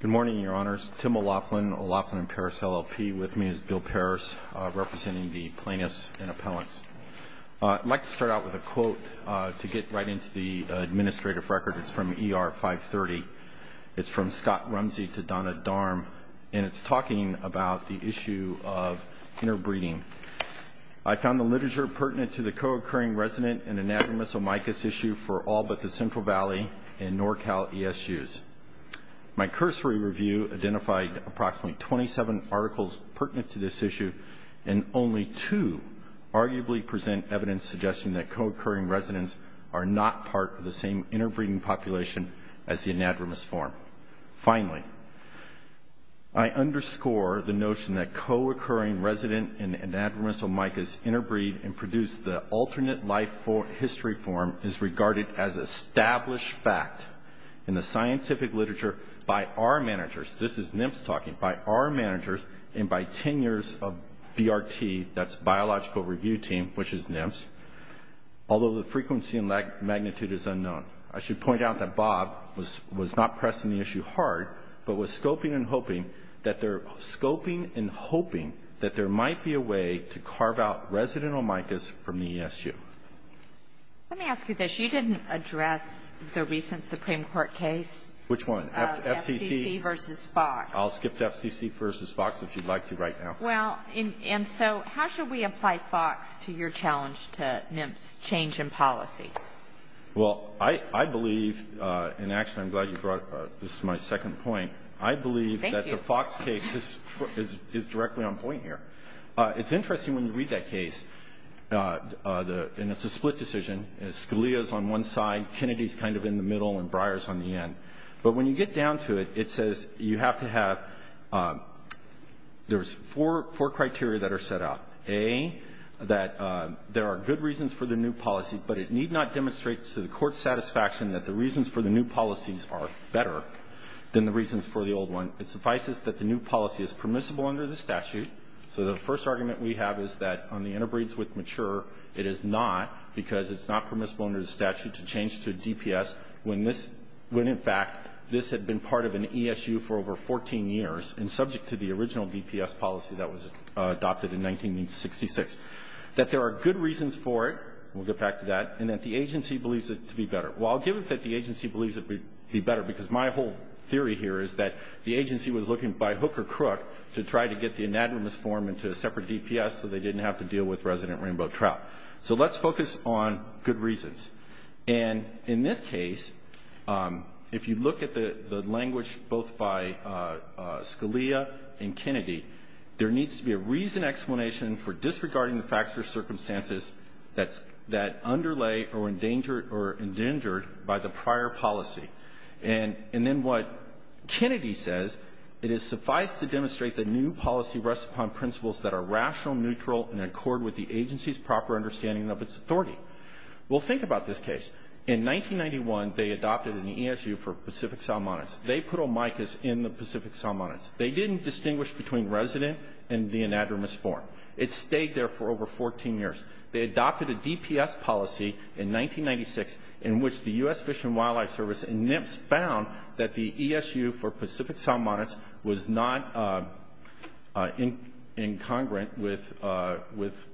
Good morning, your honors. Tim O'Loughlin, O'Loughlin and Parris LLP. With me is Bill Parris, representing the plaintiffs and appellants. I'd like to start out with a quote to get right into the administrative record. It's from ER 530. It's from Scott Rumsey to Donna Darm, and it's talking about the issue of interbreeding. I found the literature pertinent to the co-occurring resident and anagramus omicus issue for all but the Central Valley and NorCal ESUs. My cursory review identified approximately 27 articles pertinent to this issue, and only two arguably present evidence suggesting that co-occurring residents are not part of the same interbreeding population as the anagramus form. Finally, I underscore the notion that co-occurring resident and anagramus omicus interbreed and produced the most established fact in the scientific literature by our managers, this is NIMS talking, by our managers and by 10 years of BRT, that's Biological Review Team, which is NIMS, although the frequency and magnitude is unknown. I should point out that Bob was not pressing the issue hard, but was scoping and hoping that there might be a way to carve out resident and anagramus omicus from the ESU. Let me ask you this, you didn't address the recent Supreme Court case. Which one? FCC versus Fox. I'll skip to FCC versus Fox if you'd like to right now. Well, and so how should we apply Fox to your challenge to NIMS change in policy? Well, I believe, and actually I'm glad you brought up, this is my second point, I believe Thank you. that the Fox case is directly on point here. It's interesting when you read that case, and it's a split decision, Scalia's on one side, Kennedy's kind of in the middle, and Breyer's on the end. But when you get down to it, it says you have to have, there's four criteria that are set out. A, that there are good reasons for the new policy, but it need not demonstrate to the court's satisfaction that the reasons for the new policies are better than the reasons for the old one. It suffices that the new policy is permissible under the statute. So the first argument we have is that on the interbreeds with mature, it is not because it's not permissible under the statute to change to DPS when this, when in fact this had been part of an ESU for over 14 years and subject to the original DPS policy that was adopted in 1966. That there are good reasons for it, we'll get back to that, and that the agency believes it to be better. Well, I'll give it that the agency believes it would be better because my whole theory here is that the agency was looking by hook or crook to try to get the anadromous form into a separate DPS so they didn't have to deal with resident rainbow trout. So let's focus on good reasons. And in this case, if you look at the language both by Scalia and Kennedy, there needs to be a reason explanation for disregarding the facts or circumstances that underlay or endanger or endangered by the prior policy. And then what Kennedy says, it is suffice to demonstrate the new policy rests upon principles that are rational, neutral, and in accord with the agency's proper understanding of its authority. Well, think about this case. In 1991, they adopted an ESU for Pacific salmonids. They put omicas in the Pacific salmonids. They didn't distinguish between resident and the anadromous form. It stayed there for over 14 years. They adopted a DPS policy in 1996 in which the U.S. Fish and Wildlife Service and NIPS found that the ESU for Pacific salmonids was not incongruent with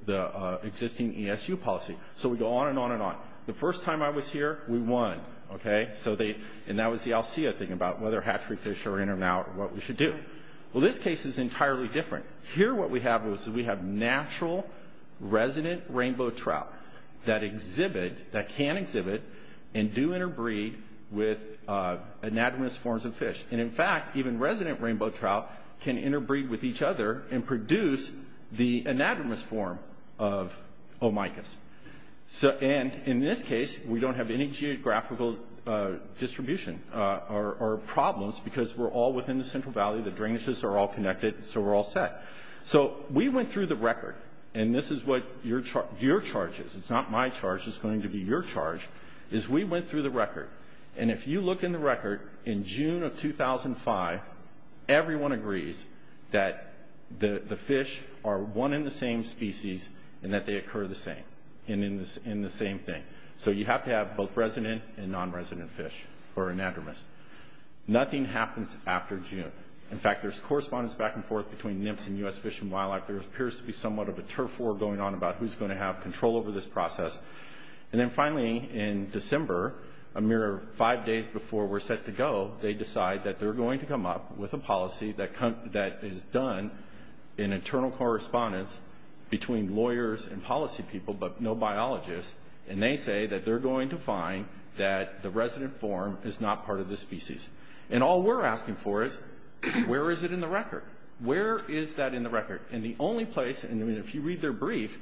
the existing ESU policy. So we go on and on and on. The first time I was here, we won. Okay? And that was the ALSEA thing about whether hatchery fish are in or out, what we should do. Well, this case is entirely different. Here what we have is we have natural resident rainbow trout that can exhibit and do interbreed with anadromous forms of fish. And in fact, even resident rainbow trout can interbreed with each other and produce the anadromous form of omicas. And in this case, we don't have any geographical distribution or problems because we're all within the Central Valley. The drainages are all connected, so we're all set. So we went through the record. And this is what your charge is. It's not my charge. It's going to be your charge, is we went through the record. And if you look in the record, in June of 2005, everyone agrees that the fish are one and the same species and that they occur the same in the same thing. So you have to have both resident and non-resident fish or anadromous. Nothing happens after June. In fact, there's correspondence back and forth between NIMPS and U.S. Fish and Wildlife. There appears to be somewhat of a turf war going on about who's going to have control over this process. And then finally, in December, a mere five days before we're set to go, they decide that they're going to come up with a policy that is done in internal correspondence between lawyers and policy people, but no biologists. And they say that they're going to find that the resident form is not part of the species. And all we're asking for is, where is it in the record? Where is that in the record? And the only place, and if you read their brief,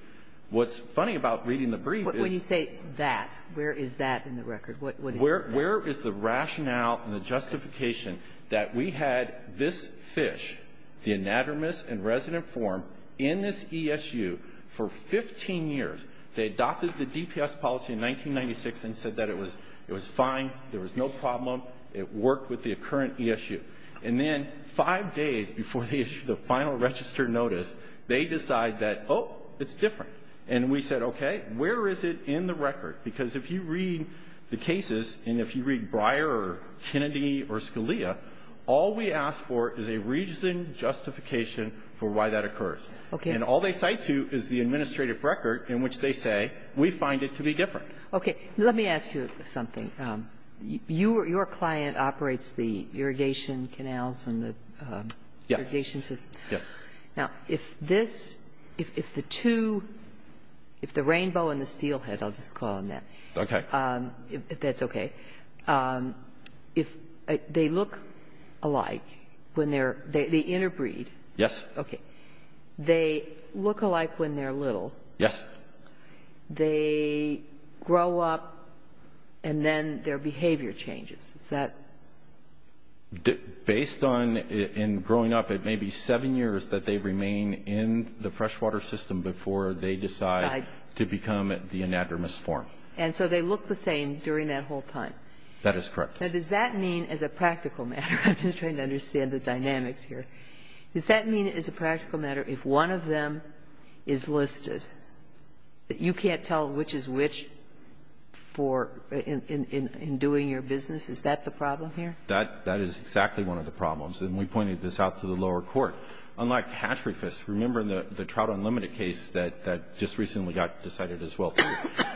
what's funny about reading the brief is... When you say that, where is that in the record? What is that? Where is the rationale and the justification that we had this fish, the anadromous and resident form, in this ESU for 15 years. They adopted the DPS policy in 1996 and said that it was fine, there was no problem, it worked with the current ESU. And then five days before they issue the final registered notice, they decide that, oh, it's different. And we said, okay, where is it in the record? Because if you read the cases, and if you read Breyer or Kennedy or Scalia, all we ask for is a reason, justification for why that occurs. Okay. And all they cite to is the administrative record in which they say, we find it to be different. Okay. Let me ask you something. Your client operates the irrigation canals and the irrigation system. Yes. Now, if this, if the two, if the rainbow and the steelhead, I'll just call them that. Okay. That's okay. If they look alike when they're, the inner breed. Yes. Okay. They look alike when they're little. Yes. They grow up, and then their behavior changes. Is that? Based on, in growing up, it may be seven years that they remain in the freshwater system before they decide to become the anadromous form. And so they look the same during that whole time. That is correct. Now, does that mean, as a practical matter, I'm just trying to understand the dynamics here. Does that mean, as a practical matter, if one of them is listed, that you can't tell which is which for, in doing your business? Is that the problem here? That is exactly one of the problems. And we pointed this out to the lower court. Unlike hatchery fish, remember the Trout Unlimited case that just recently got decided as well, too.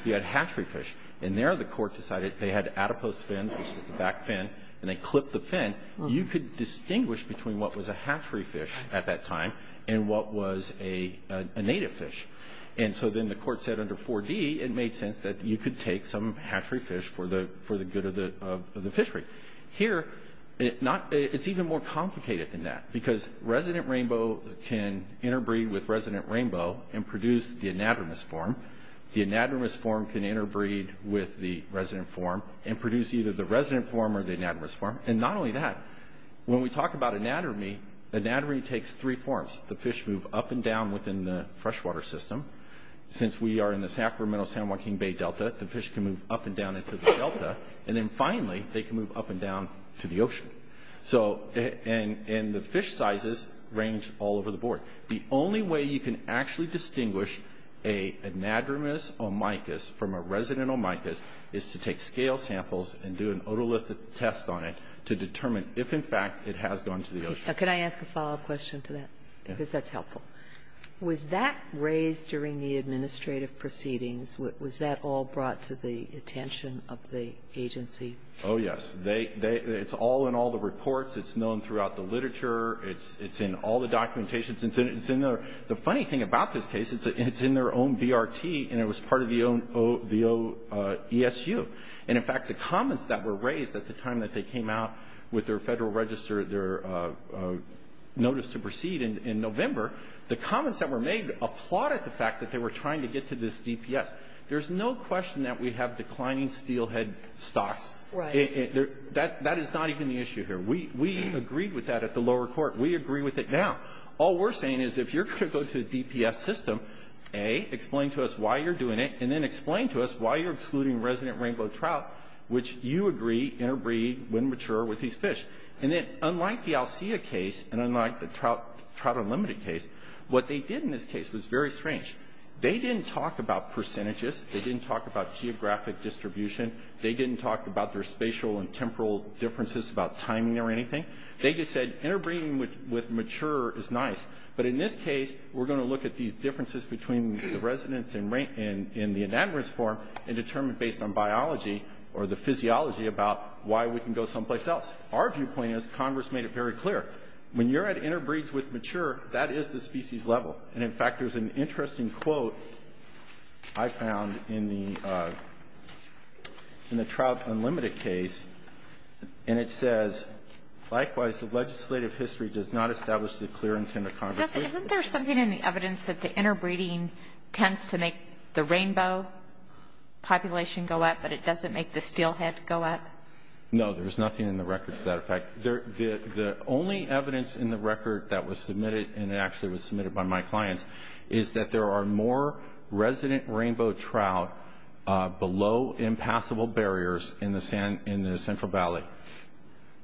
You had hatchery fish, and there the court decided they had adipose fin, which is the back fin, and they clipped the fin. You could distinguish between what was a hatchery fish at that time and what was a native fish. And so then the court said under 4D, it made sense that you could take some hatchery fish for the good of the fishery. Here, it's even more complicated than that, because resident rainbow can interbreed with resident rainbow and produce the anadromous form. The anadromous form can interbreed with the resident form and produce either the or that. When we talk about anatomy, anatomy takes three forms. The fish move up and down within the freshwater system. Since we are in the Sacramento-San Joaquin Bay Delta, the fish can move up and down into the delta. And then finally, they can move up and down to the ocean. And the fish sizes range all over the board. The only way you can actually distinguish an anadromous omycus from a resident omycus is to take scale samples and do an otolithic test on it to determine if, in fact, it has gone to the ocean. Can I ask a follow-up question to that? Yes. Because that's helpful. Was that raised during the administrative proceedings? Was that all brought to the attention of the agency? Oh, yes. It's all in all the reports. It's known throughout the literature. It's in all the documentations. And the funny thing about this case, it's in their own BRT, and it was part of the OESU. And, in fact, the comments that were raised at the time that they came out with their Federal Register, their notice to proceed in November, the comments that were made applauded the fact that they were trying to get to this DPS. There's no question that we have declining steelhead stocks. Right. That is not even the issue here. We agreed with that at the lower court. We agree with it now. All we're saying is, if you're going to go to the DPS system, A, explain to us why you're doing it, and then explain to us why you're excluding resident rainbow trout, which you agree interbreed, when mature, with these fish. And then, unlike the Alsea case, and unlike the Trout Unlimited case, what they did in this case was very strange. They didn't talk about percentages. They didn't talk about geographic distribution. They didn't talk about their spatial and temporal differences, about timing or anything. They just said, interbreeding with mature is nice. But in this case, we're going to look at these differences between the residents in the anamorous form and determine, based on biology or the physiology, about why we can go someplace else. Our viewpoint is, Congress made it very clear, when you're at interbreeds with mature, that is the species level. And, in fact, there's an interesting quote I found in the Trout Unlimited case, and it says, likewise, the legislative history does not establish the clear intent of Congress. Isn't there something in the evidence that the interbreeding tends to make the rainbow population go up, but it doesn't make the steelhead go up? No, there's nothing in the record to that effect. The only evidence in the record that was submitted, and it actually was submitted by my clients, is that there are more resident rainbow trout below impassable barriers in the Central Valley.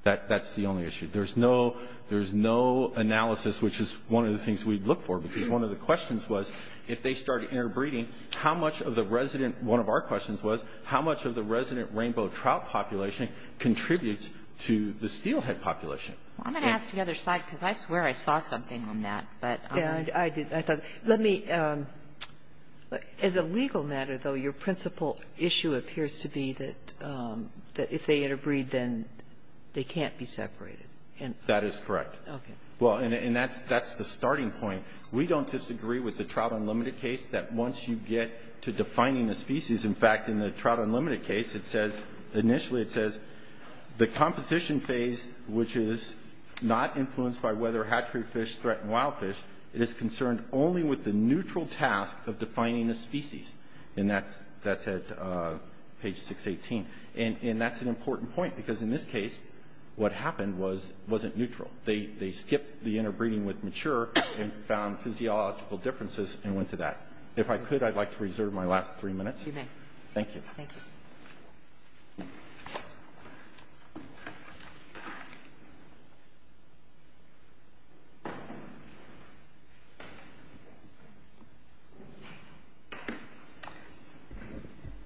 That's the only issue. There's no analysis, which is one of the things we'd look for, because one of the questions was, if they started interbreeding, how much of the resident, one of our questions was, how much of the resident rainbow trout population contributes to the steelhead population? I'm going to ask the other side, because I swear I saw something on that. Yeah, I did. Let me, as a legal matter, though, your principal issue appears to be that if they interbreed, then they can't be separated. That is correct. Okay. Well, and that's the starting point. We don't disagree with the Trout Unlimited case that once you get to defining the species, in fact, in the Trout Unlimited case, it says, initially it says, the composition phase, which is not influenced by whether hatchery fish threaten wild fish, it is concerned only with the neutral task of defining the species. And that's at page 618. And that's an important point, because in this case, what happened wasn't neutral. They skipped the interbreeding with mature and found physiological differences and went to that. If I could, I'd like to reserve my last three minutes. You may. Thank you. Thank you.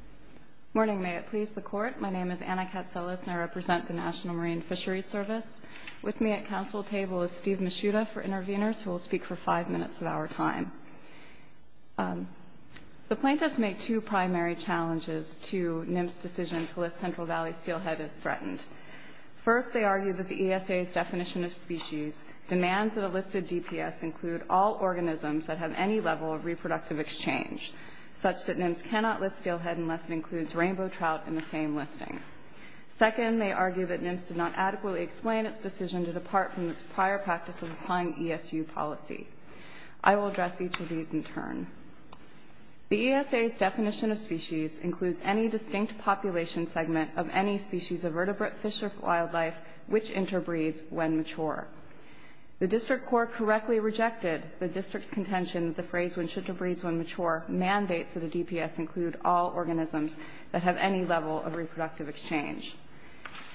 Good morning. May it please the Court. My name is Anna Katselis, and I represent the National Marine Fisheries Service. With me at council table is Steve Mishuta for interveners, who will speak for five minutes of our time. The plaintiffs make two primary challenges to NIMS' decision to list Central Valley steelhead as threatened. First, they argue that the ESA's definition of species demands that a listed DPS include all organisms that have any level of reproductive exchange, such that NIMS cannot list steelhead unless it includes rainbow trout in the same listing. Second, they argue that NIMS did not adequately explain its decision to depart from its prior practice of applying ESU policy. I will address each of these in turn. The ESA's definition of species includes any distinct population segment of any species of vertebrate fish or The district court correctly rejected the district's contention that the phrase when should to breeds when mature mandates that a DPS include all organisms that have any level of reproductive exchange.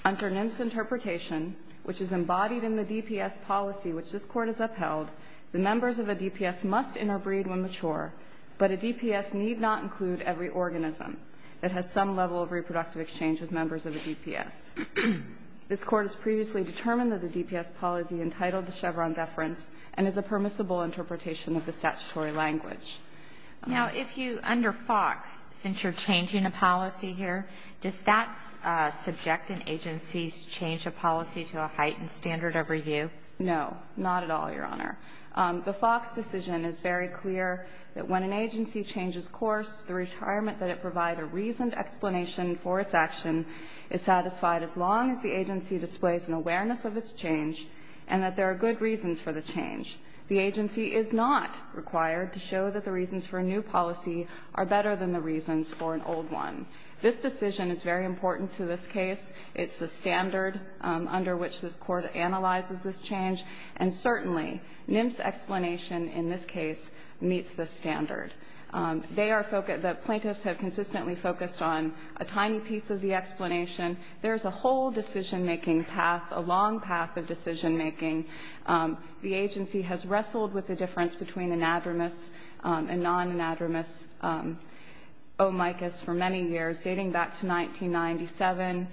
Under NIMS' interpretation, which is embodied in the DPS policy which this Court has upheld, the members of a DPS must interbreed when mature, but a DPS need not include every organism that has some level of reproductive exchange with members of a DPS. This Court has previously determined that the DPS policy entitled to Chevron deference and is a permissible interpretation of the statutory language. Now, if you, under FOX, since you're changing a policy here, does that subject an agency's change of policy to a heightened standard of review? No. Not at all, Your Honor. The FOX decision is very clear that when an agency changes course, the retirement that it provide a reasoned explanation for its action is satisfied as long as the agency displays an awareness of its change and that there are good reasons for the change. The agency is not required to show that the reasons for a new policy are better than the reasons for an old one. This decision is very important to this case. It's the standard under which this Court analyzes this change, and certainly NIMS' explanation in this case meets this standard. They are focused, the plaintiffs have consistently focused on a tiny piece of the explanation. There's a whole decision-making path, a long path of decision-making. The agency has wrestled with the difference between anadromous and non-anadromous omicus for many years, dating back to 1997.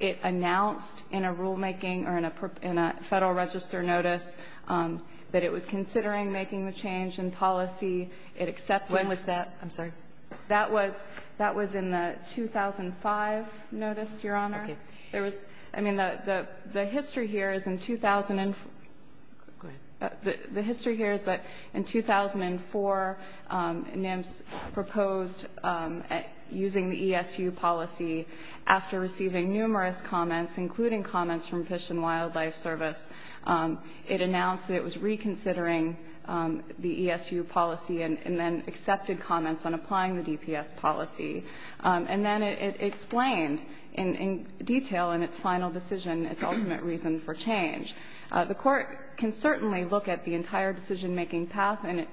It announced in a rulemaking or in a Federal Register notice that it was considering making the change in policy. It accepted that. When was that? I'm sorry. That was in the 2005 notice, Your Honor. Okay. There was, I mean, the history here is in 2004 NIMS proposed using the ESU policy after receiving numerous comments, including comments from Fish and Wildlife Service, it announced that it was reconsidering the ESU policy and then accepted the comments on applying the DPS policy. And then it explained in detail in its final decision its ultimate reason for change. The Court can certainly look at the entire decision-making path and it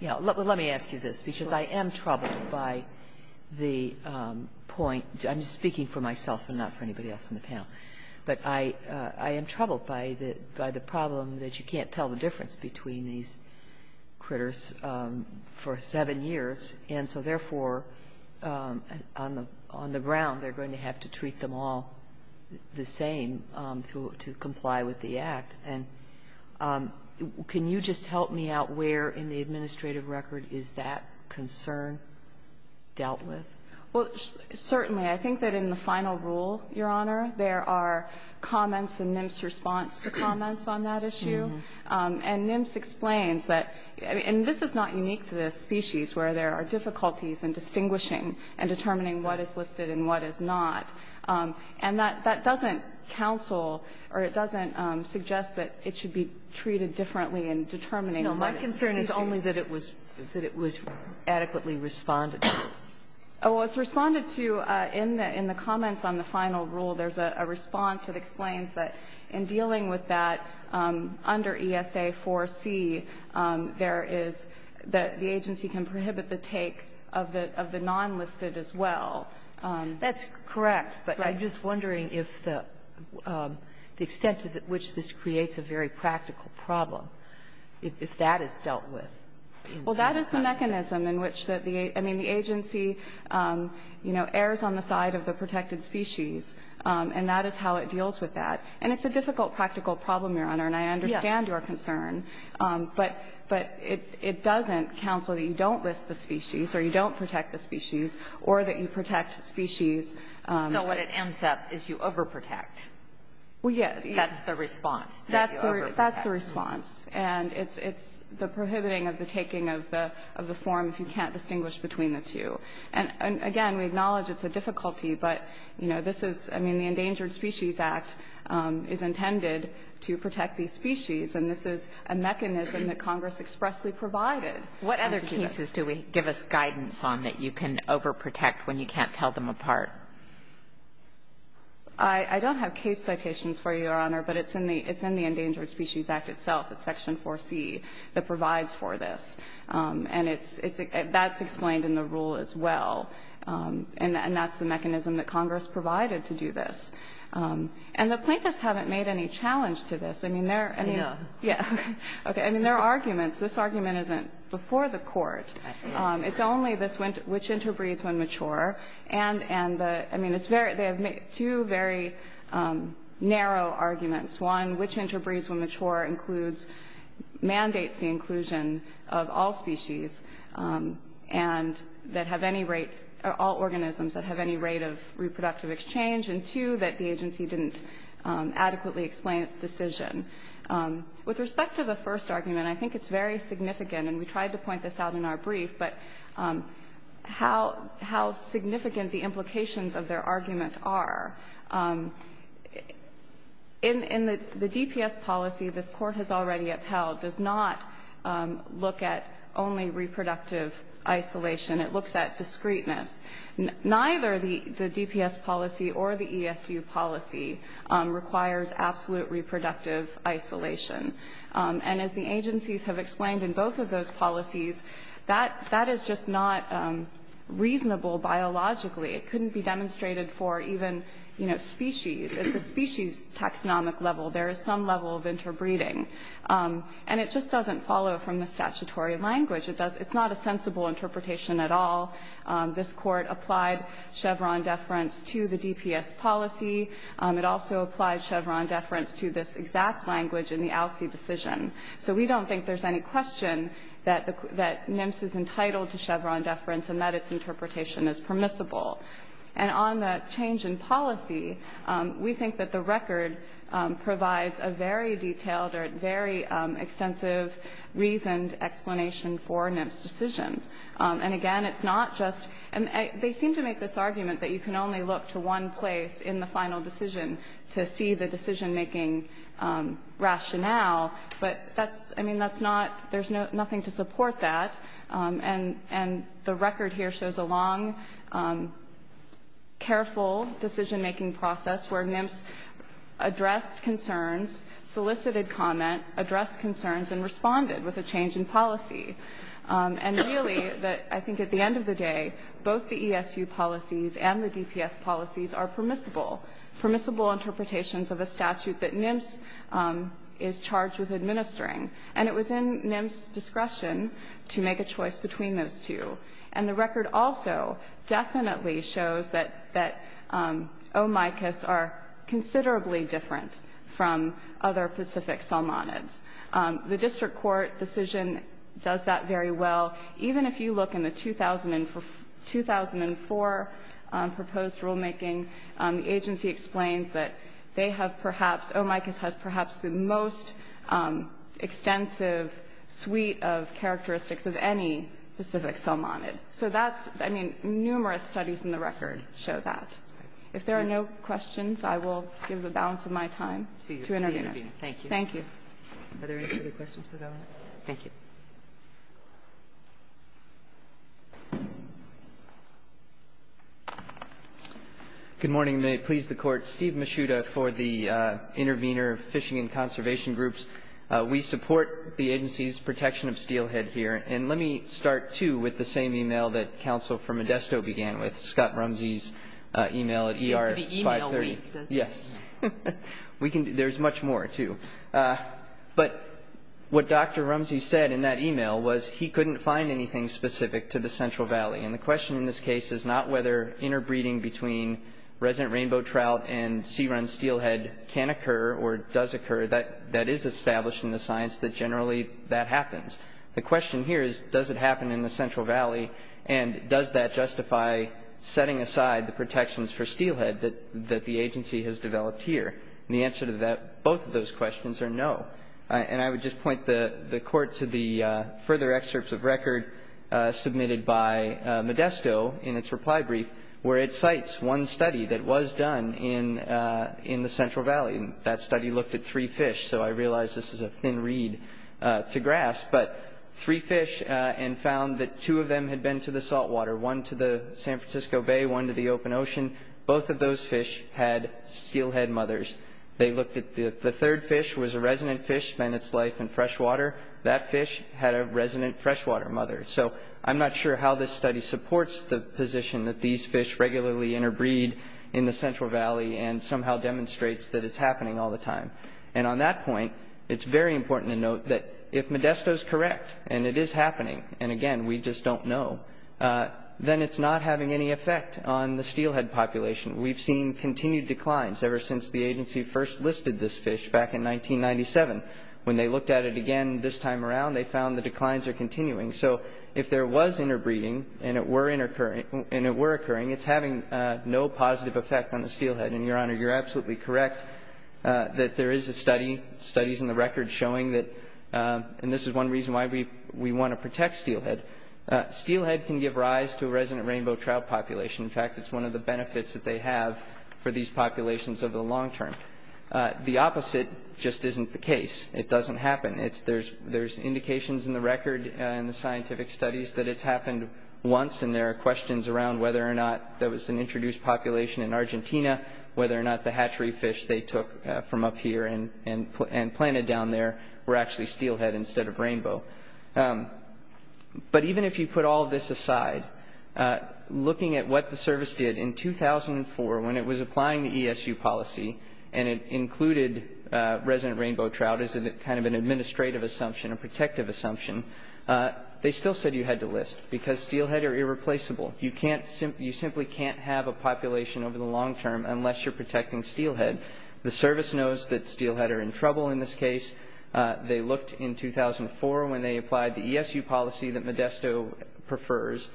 ---- Yeah. Let me ask you this, because I am troubled by the point. I'm speaking for myself and not for anybody else on the panel. But I am troubled by the problem that you can't tell the difference between these critters for seven years. And so, therefore, on the ground, they're going to have to treat them all the same to comply with the Act. And can you just help me out where in the administrative record is that concern dealt with? Well, certainly. I think that in the final rule, Your Honor, there are comments in NIMS' response to comments on that issue. And NIMS explains that ---- and this is not unique to this species where there are difficulties in distinguishing and determining what is listed and what is not. And that doesn't counsel or it doesn't suggest that it should be treated differently in determining what is listed. No, my concern is only that it was adequately responded to. Oh, it was responded to in the comments on the final rule. There's a response that explains that in dealing with that under ESA 4C, there is that the agency can prohibit the take of the nonlisted as well. That's correct. But I'm just wondering if the extent to which this creates a very practical problem, if that is dealt with. Well, that is the mechanism in which the agency, you know, errs on the side of the agency, and that is how it deals with that. And it's a difficult practical problem, Your Honor. Yes. And I understand your concern. But it doesn't counsel that you don't list the species or you don't protect the species or that you protect species. So what it ends up is you overprotect. Well, yes. That's the response, that you overprotect. That's the response. And it's the prohibiting of the taking of the form if you can't distinguish between the two. And again, we acknowledge it's a difficulty, but, you know, this is, I mean, the Endangered Species Act is intended to protect these species, and this is a mechanism that Congress expressly provided. What other cases do we give us guidance on that you can overprotect when you can't tell them apart? I don't have case citations for you, Your Honor, but it's in the Endangered Species Act itself, it's Section 4C, that provides for this. And that's explained in the rule as well. And that's the mechanism that Congress provided to do this. And the plaintiffs haven't made any challenge to this. I mean, there are arguments. This argument isn't before the court. It's only this, which interbreeds when mature. And, I mean, they have made two very narrow arguments. One, which interbreeds when mature includes, mandates the inclusion of all species and that have any rate, all organisms that have any rate of reproductive exchange. And two, that the agency didn't adequately explain its decision. With respect to the first argument, I think it's very significant, and we tried to point this out in our brief, but how significant the implications of their argument are. In the DPS policy, this Court has already upheld, does not look at only reproductive isolation. It looks at discreteness. Neither the DPS policy or the ESU policy requires absolute reproductive isolation. And as the agencies have explained in both of those policies, that is just not reasonable biologically. It couldn't be demonstrated for even, you know, species. At the species taxonomic level, there is some level of interbreeding. And it just doesn't follow from the statutory language. It's not a sensible interpretation at all. This Court applied Chevron deference to the DPS policy. It also applied Chevron deference to this exact language in the ALCE decision. So we don't think there's any question that NIMS is entitled to Chevron deference and that its interpretation is permissible. And on the change in policy, we think that the record provides a very detailed or very extensive reasoned explanation for NIMS' decision. And, again, it's not just they seem to make this argument that you can only look to one place in the final decision to see the decision-making rationale. But that's, I mean, that's not, there's nothing to support that. And the record here shows a long, careful decision-making process where NIMS addressed concerns, solicited comment, addressed concerns, and responded with a change in policy. And really, I think at the end of the day, both the ESU policies and the DPS policies are permissible, permissible interpretations of a statute that NIMS is charged with administering. And it was in NIMS' discretion to make a choice between those two. And the record also definitely shows that OMICUS are considerably different from other Pacific salmonids. The district court decision does that very well. Even if you look in the 2004 proposed rulemaking, the agency explains that they have perhaps, OMICUS has perhaps the most extensive suite of characteristics of any Pacific salmonid. So that's, I mean, numerous studies in the record show that. If there are no questions, I will give the balance of my time to interveners. Thank you. Are there any further questions for the Governor? Thank you. Good morning. May it please the Court. Steve Mishuta for the Intervenor Fishing and Conservation Groups. We support the agency's protection of steelhead here. And let me start, too, with the same e-mail that counsel from Modesto began with, Scott Rumsey's e-mail. It's ER530. It's the e-mail week. Yes. There's much more, too. But what Dr. Rumsey said in that e-mail was he couldn't find anything specific to the Central Valley. And the question in this case is not whether interbreeding between resident rainbow trout and sea run steelhead can occur or does occur. That is established in the science that generally that happens. The question here is does it happen in the Central Valley, and does that justify setting aside the protections for steelhead that the agency has developed here? And the answer to both of those questions are no. And I would just point the Court to the further excerpts of record submitted by Modesto in its reply brief where it cites one study that was done in the Central Valley. And that study looked at three fish, so I realize this is a thin reed to grasp, but three fish and found that two of them had been to the saltwater, one to the San Francisco Bay, one to the open ocean. And both of those fish had steelhead mothers. They looked at the third fish was a resident fish, spent its life in freshwater. That fish had a resident freshwater mother. So I'm not sure how this study supports the position that these fish regularly interbreed in the Central Valley and somehow demonstrates that it's happening all the time. And on that point, it's very important to note that if Modesto is correct and it is happening, and, again, we just don't know, then it's not having any effect on the steelhead population. We've seen continued declines ever since the agency first listed this fish back in 1997. When they looked at it again this time around, they found the declines are continuing. So if there was interbreeding and it were occurring, it's having no positive effect on the steelhead. And, Your Honor, you're absolutely correct that there is a study, studies in the record, showing that, and this is one reason why we want to protect steelhead, steelhead can give rise to a resident rainbow trout population. In fact, it's one of the benefits that they have for these populations over the long term. The opposite just isn't the case. It doesn't happen. There's indications in the record in the scientific studies that it's happened once, and there are questions around whether or not there was an introduced population in Argentina, whether or not the hatchery fish they took from up here and planted down there were actually steelhead instead of rainbow. But even if you put all this aside, looking at what the service did in 2004 when it was applying the ESU policy and it included resident rainbow trout as kind of an administrative assumption, a protective assumption, they still said you had to list because steelhead are irreplaceable. You simply can't have a population over the long term unless you're protecting steelhead. The service knows that steelhead are in trouble in this case. They looked in 2004 when they applied the ESU policy that Modesto prefers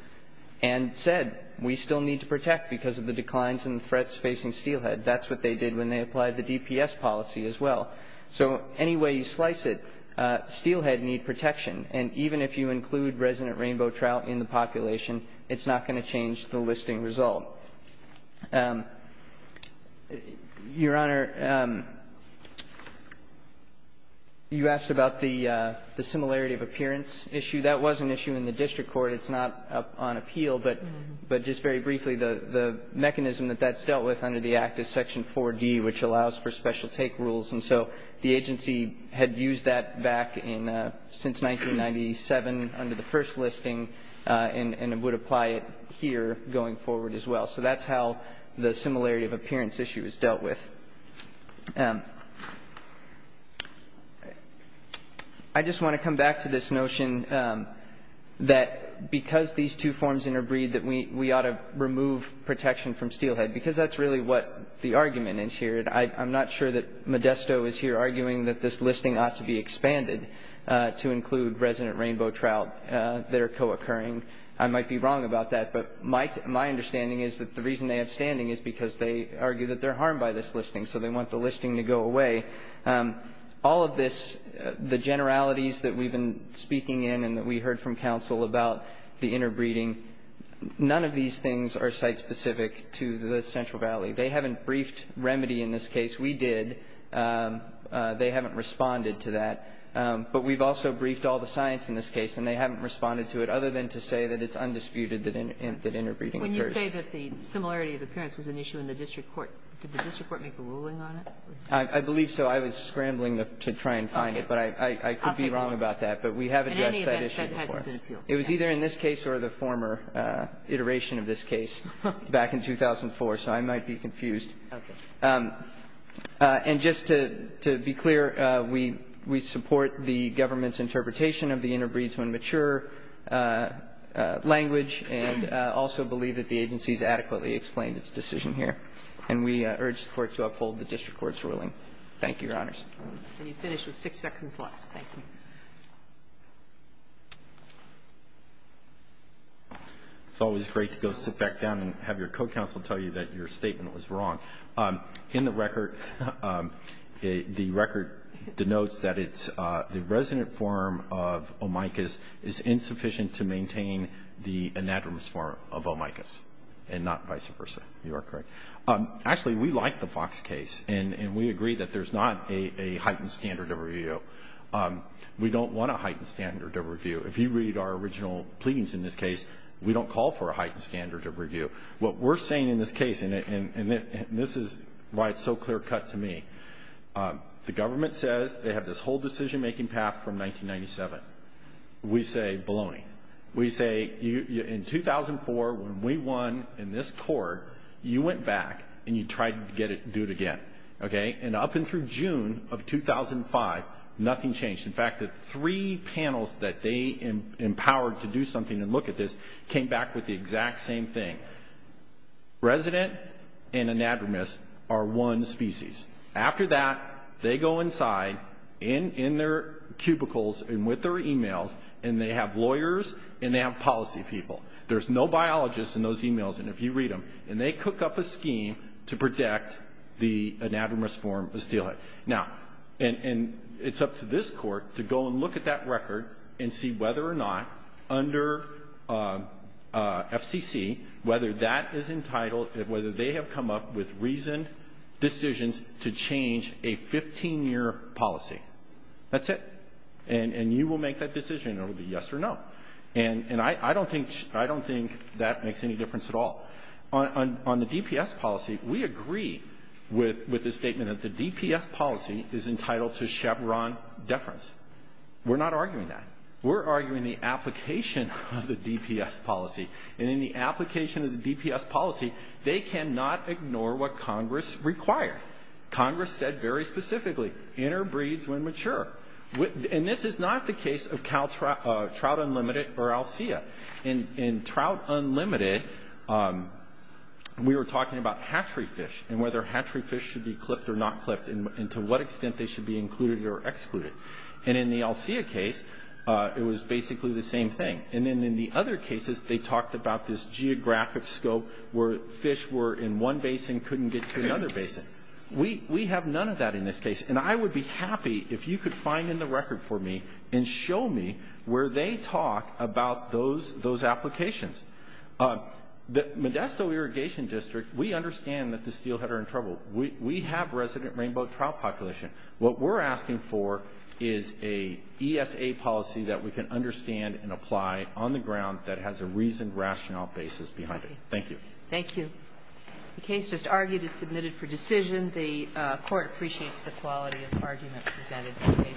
and said we still need to protect because of the declines in threats facing steelhead. That's what they did when they applied the DPS policy as well. So any way you slice it, steelhead need protection, and even if you include resident rainbow trout in the population, it's not going to change the listing result. Your Honor, you asked about the similarity of appearance issue. That was an issue in the district court. It's not up on appeal. But just very briefly, the mechanism that that's dealt with under the Act is Section 4D, which allows for special take rules. And so the agency had used that back in since 1997 under the first listing and would apply it here going forward as well. So that's how the similarity of appearance issue is dealt with. I just want to come back to this notion that because these two forms interbreed, that we ought to remove protection from steelhead because that's really what the argument is here. I'm not sure that Modesto is here arguing that this listing ought to be expanded to include resident rainbow trout that are co-occurring. I might be wrong about that, but my understanding is that the reason they have standing is because they argue that they're harmed by this listing, so they want the listing to go away. All of this, the generalities that we've been speaking in and that we heard from counsel about the interbreeding, none of these things are site-specific to the Central Valley. They haven't briefed remedy in this case. We did. They haven't responded to that. But we've also briefed all the science in this case, and they haven't responded to it other than to say that it's undisputed that interbreeding occurs. When you say that the similarity of appearance was an issue in the district court, did the district court make a ruling on it? I believe so. I was scrambling to try and find it, but I could be wrong about that. But we have addressed that issue before. In any event, that hasn't been appealed. It was either in this case or the former iteration of this case back in 2004, so I might be confused. Okay. And just to be clear, we support the government's interpretation of the interbreeds when mature language and also believe that the agency has adequately explained its decision here. And we urge the Court to uphold the district court's ruling. Thank you, Your Honors. And you finish with six seconds left. Thank you. It's always great to go sit back down and have your co-counsel tell you that your statement was wrong. In the record, the record denotes that the resident form of omicus is insufficient to maintain the anadromous form of omicus and not vice versa. You are correct. Actually, we like the Fox case, and we agree that there's not a heightened standard of review. We don't want a heightened standard of review. If you read our original pleadings in this case, we don't call for a heightened standard of review. What we're saying in this case, and this is why it's so clear-cut to me, the government says they have this whole decision-making path from 1997. We say baloney. We say in 2004, when we won in this court, you went back and you tried to do it again. Okay. And up and through June of 2005, nothing changed. In fact, the three panels that they empowered to do something and look at this came back with the exact same thing. Resident and anadromous are one species. After that, they go inside in their cubicles and with their e-mails, and they have lawyers and they have policy people. There's no biologists in those e-mails, and if you read them, and they cook up a scheme to protect the anadromous form of steelhead. Now, and it's up to this Court to go and look at that record and see whether or not under FCC, whether that is entitled, whether they have come up with reasoned decisions to change a 15-year policy. That's it. And you will make that decision. It will be yes or no. And I don't think that makes any difference at all. On the DPS policy, we agree with the statement that the DPS policy is entitled to Chevron deference. We're not arguing that. We're arguing the application of the DPS policy. And in the application of the DPS policy, they cannot ignore what Congress required. Congress said very specifically, interbreeds when mature. And this is not the case of Trout Unlimited or ALSEA. In Trout Unlimited, we were talking about hatchery fish and whether hatchery fish should be clipped or not clipped and to what extent they should be included or excluded. And in the ALSEA case, it was basically the same thing. And then in the other cases, they talked about this geographic scope where fish were in one basin, couldn't get to the other basin. We have none of that in this case. And I would be happy if you could find in the record for me and show me where they talk about those applications. The Modesto Irrigation District, we understand that the steelhead are in trouble. We have resident rainbow trout population. What we're asking for is a ESA policy that we can understand and apply on the ground that has a reasoned rationale basis behind it. Thank you. Thank you. The case just argued is submitted for decision. The Court appreciates the quality of the argument presented. Thank you.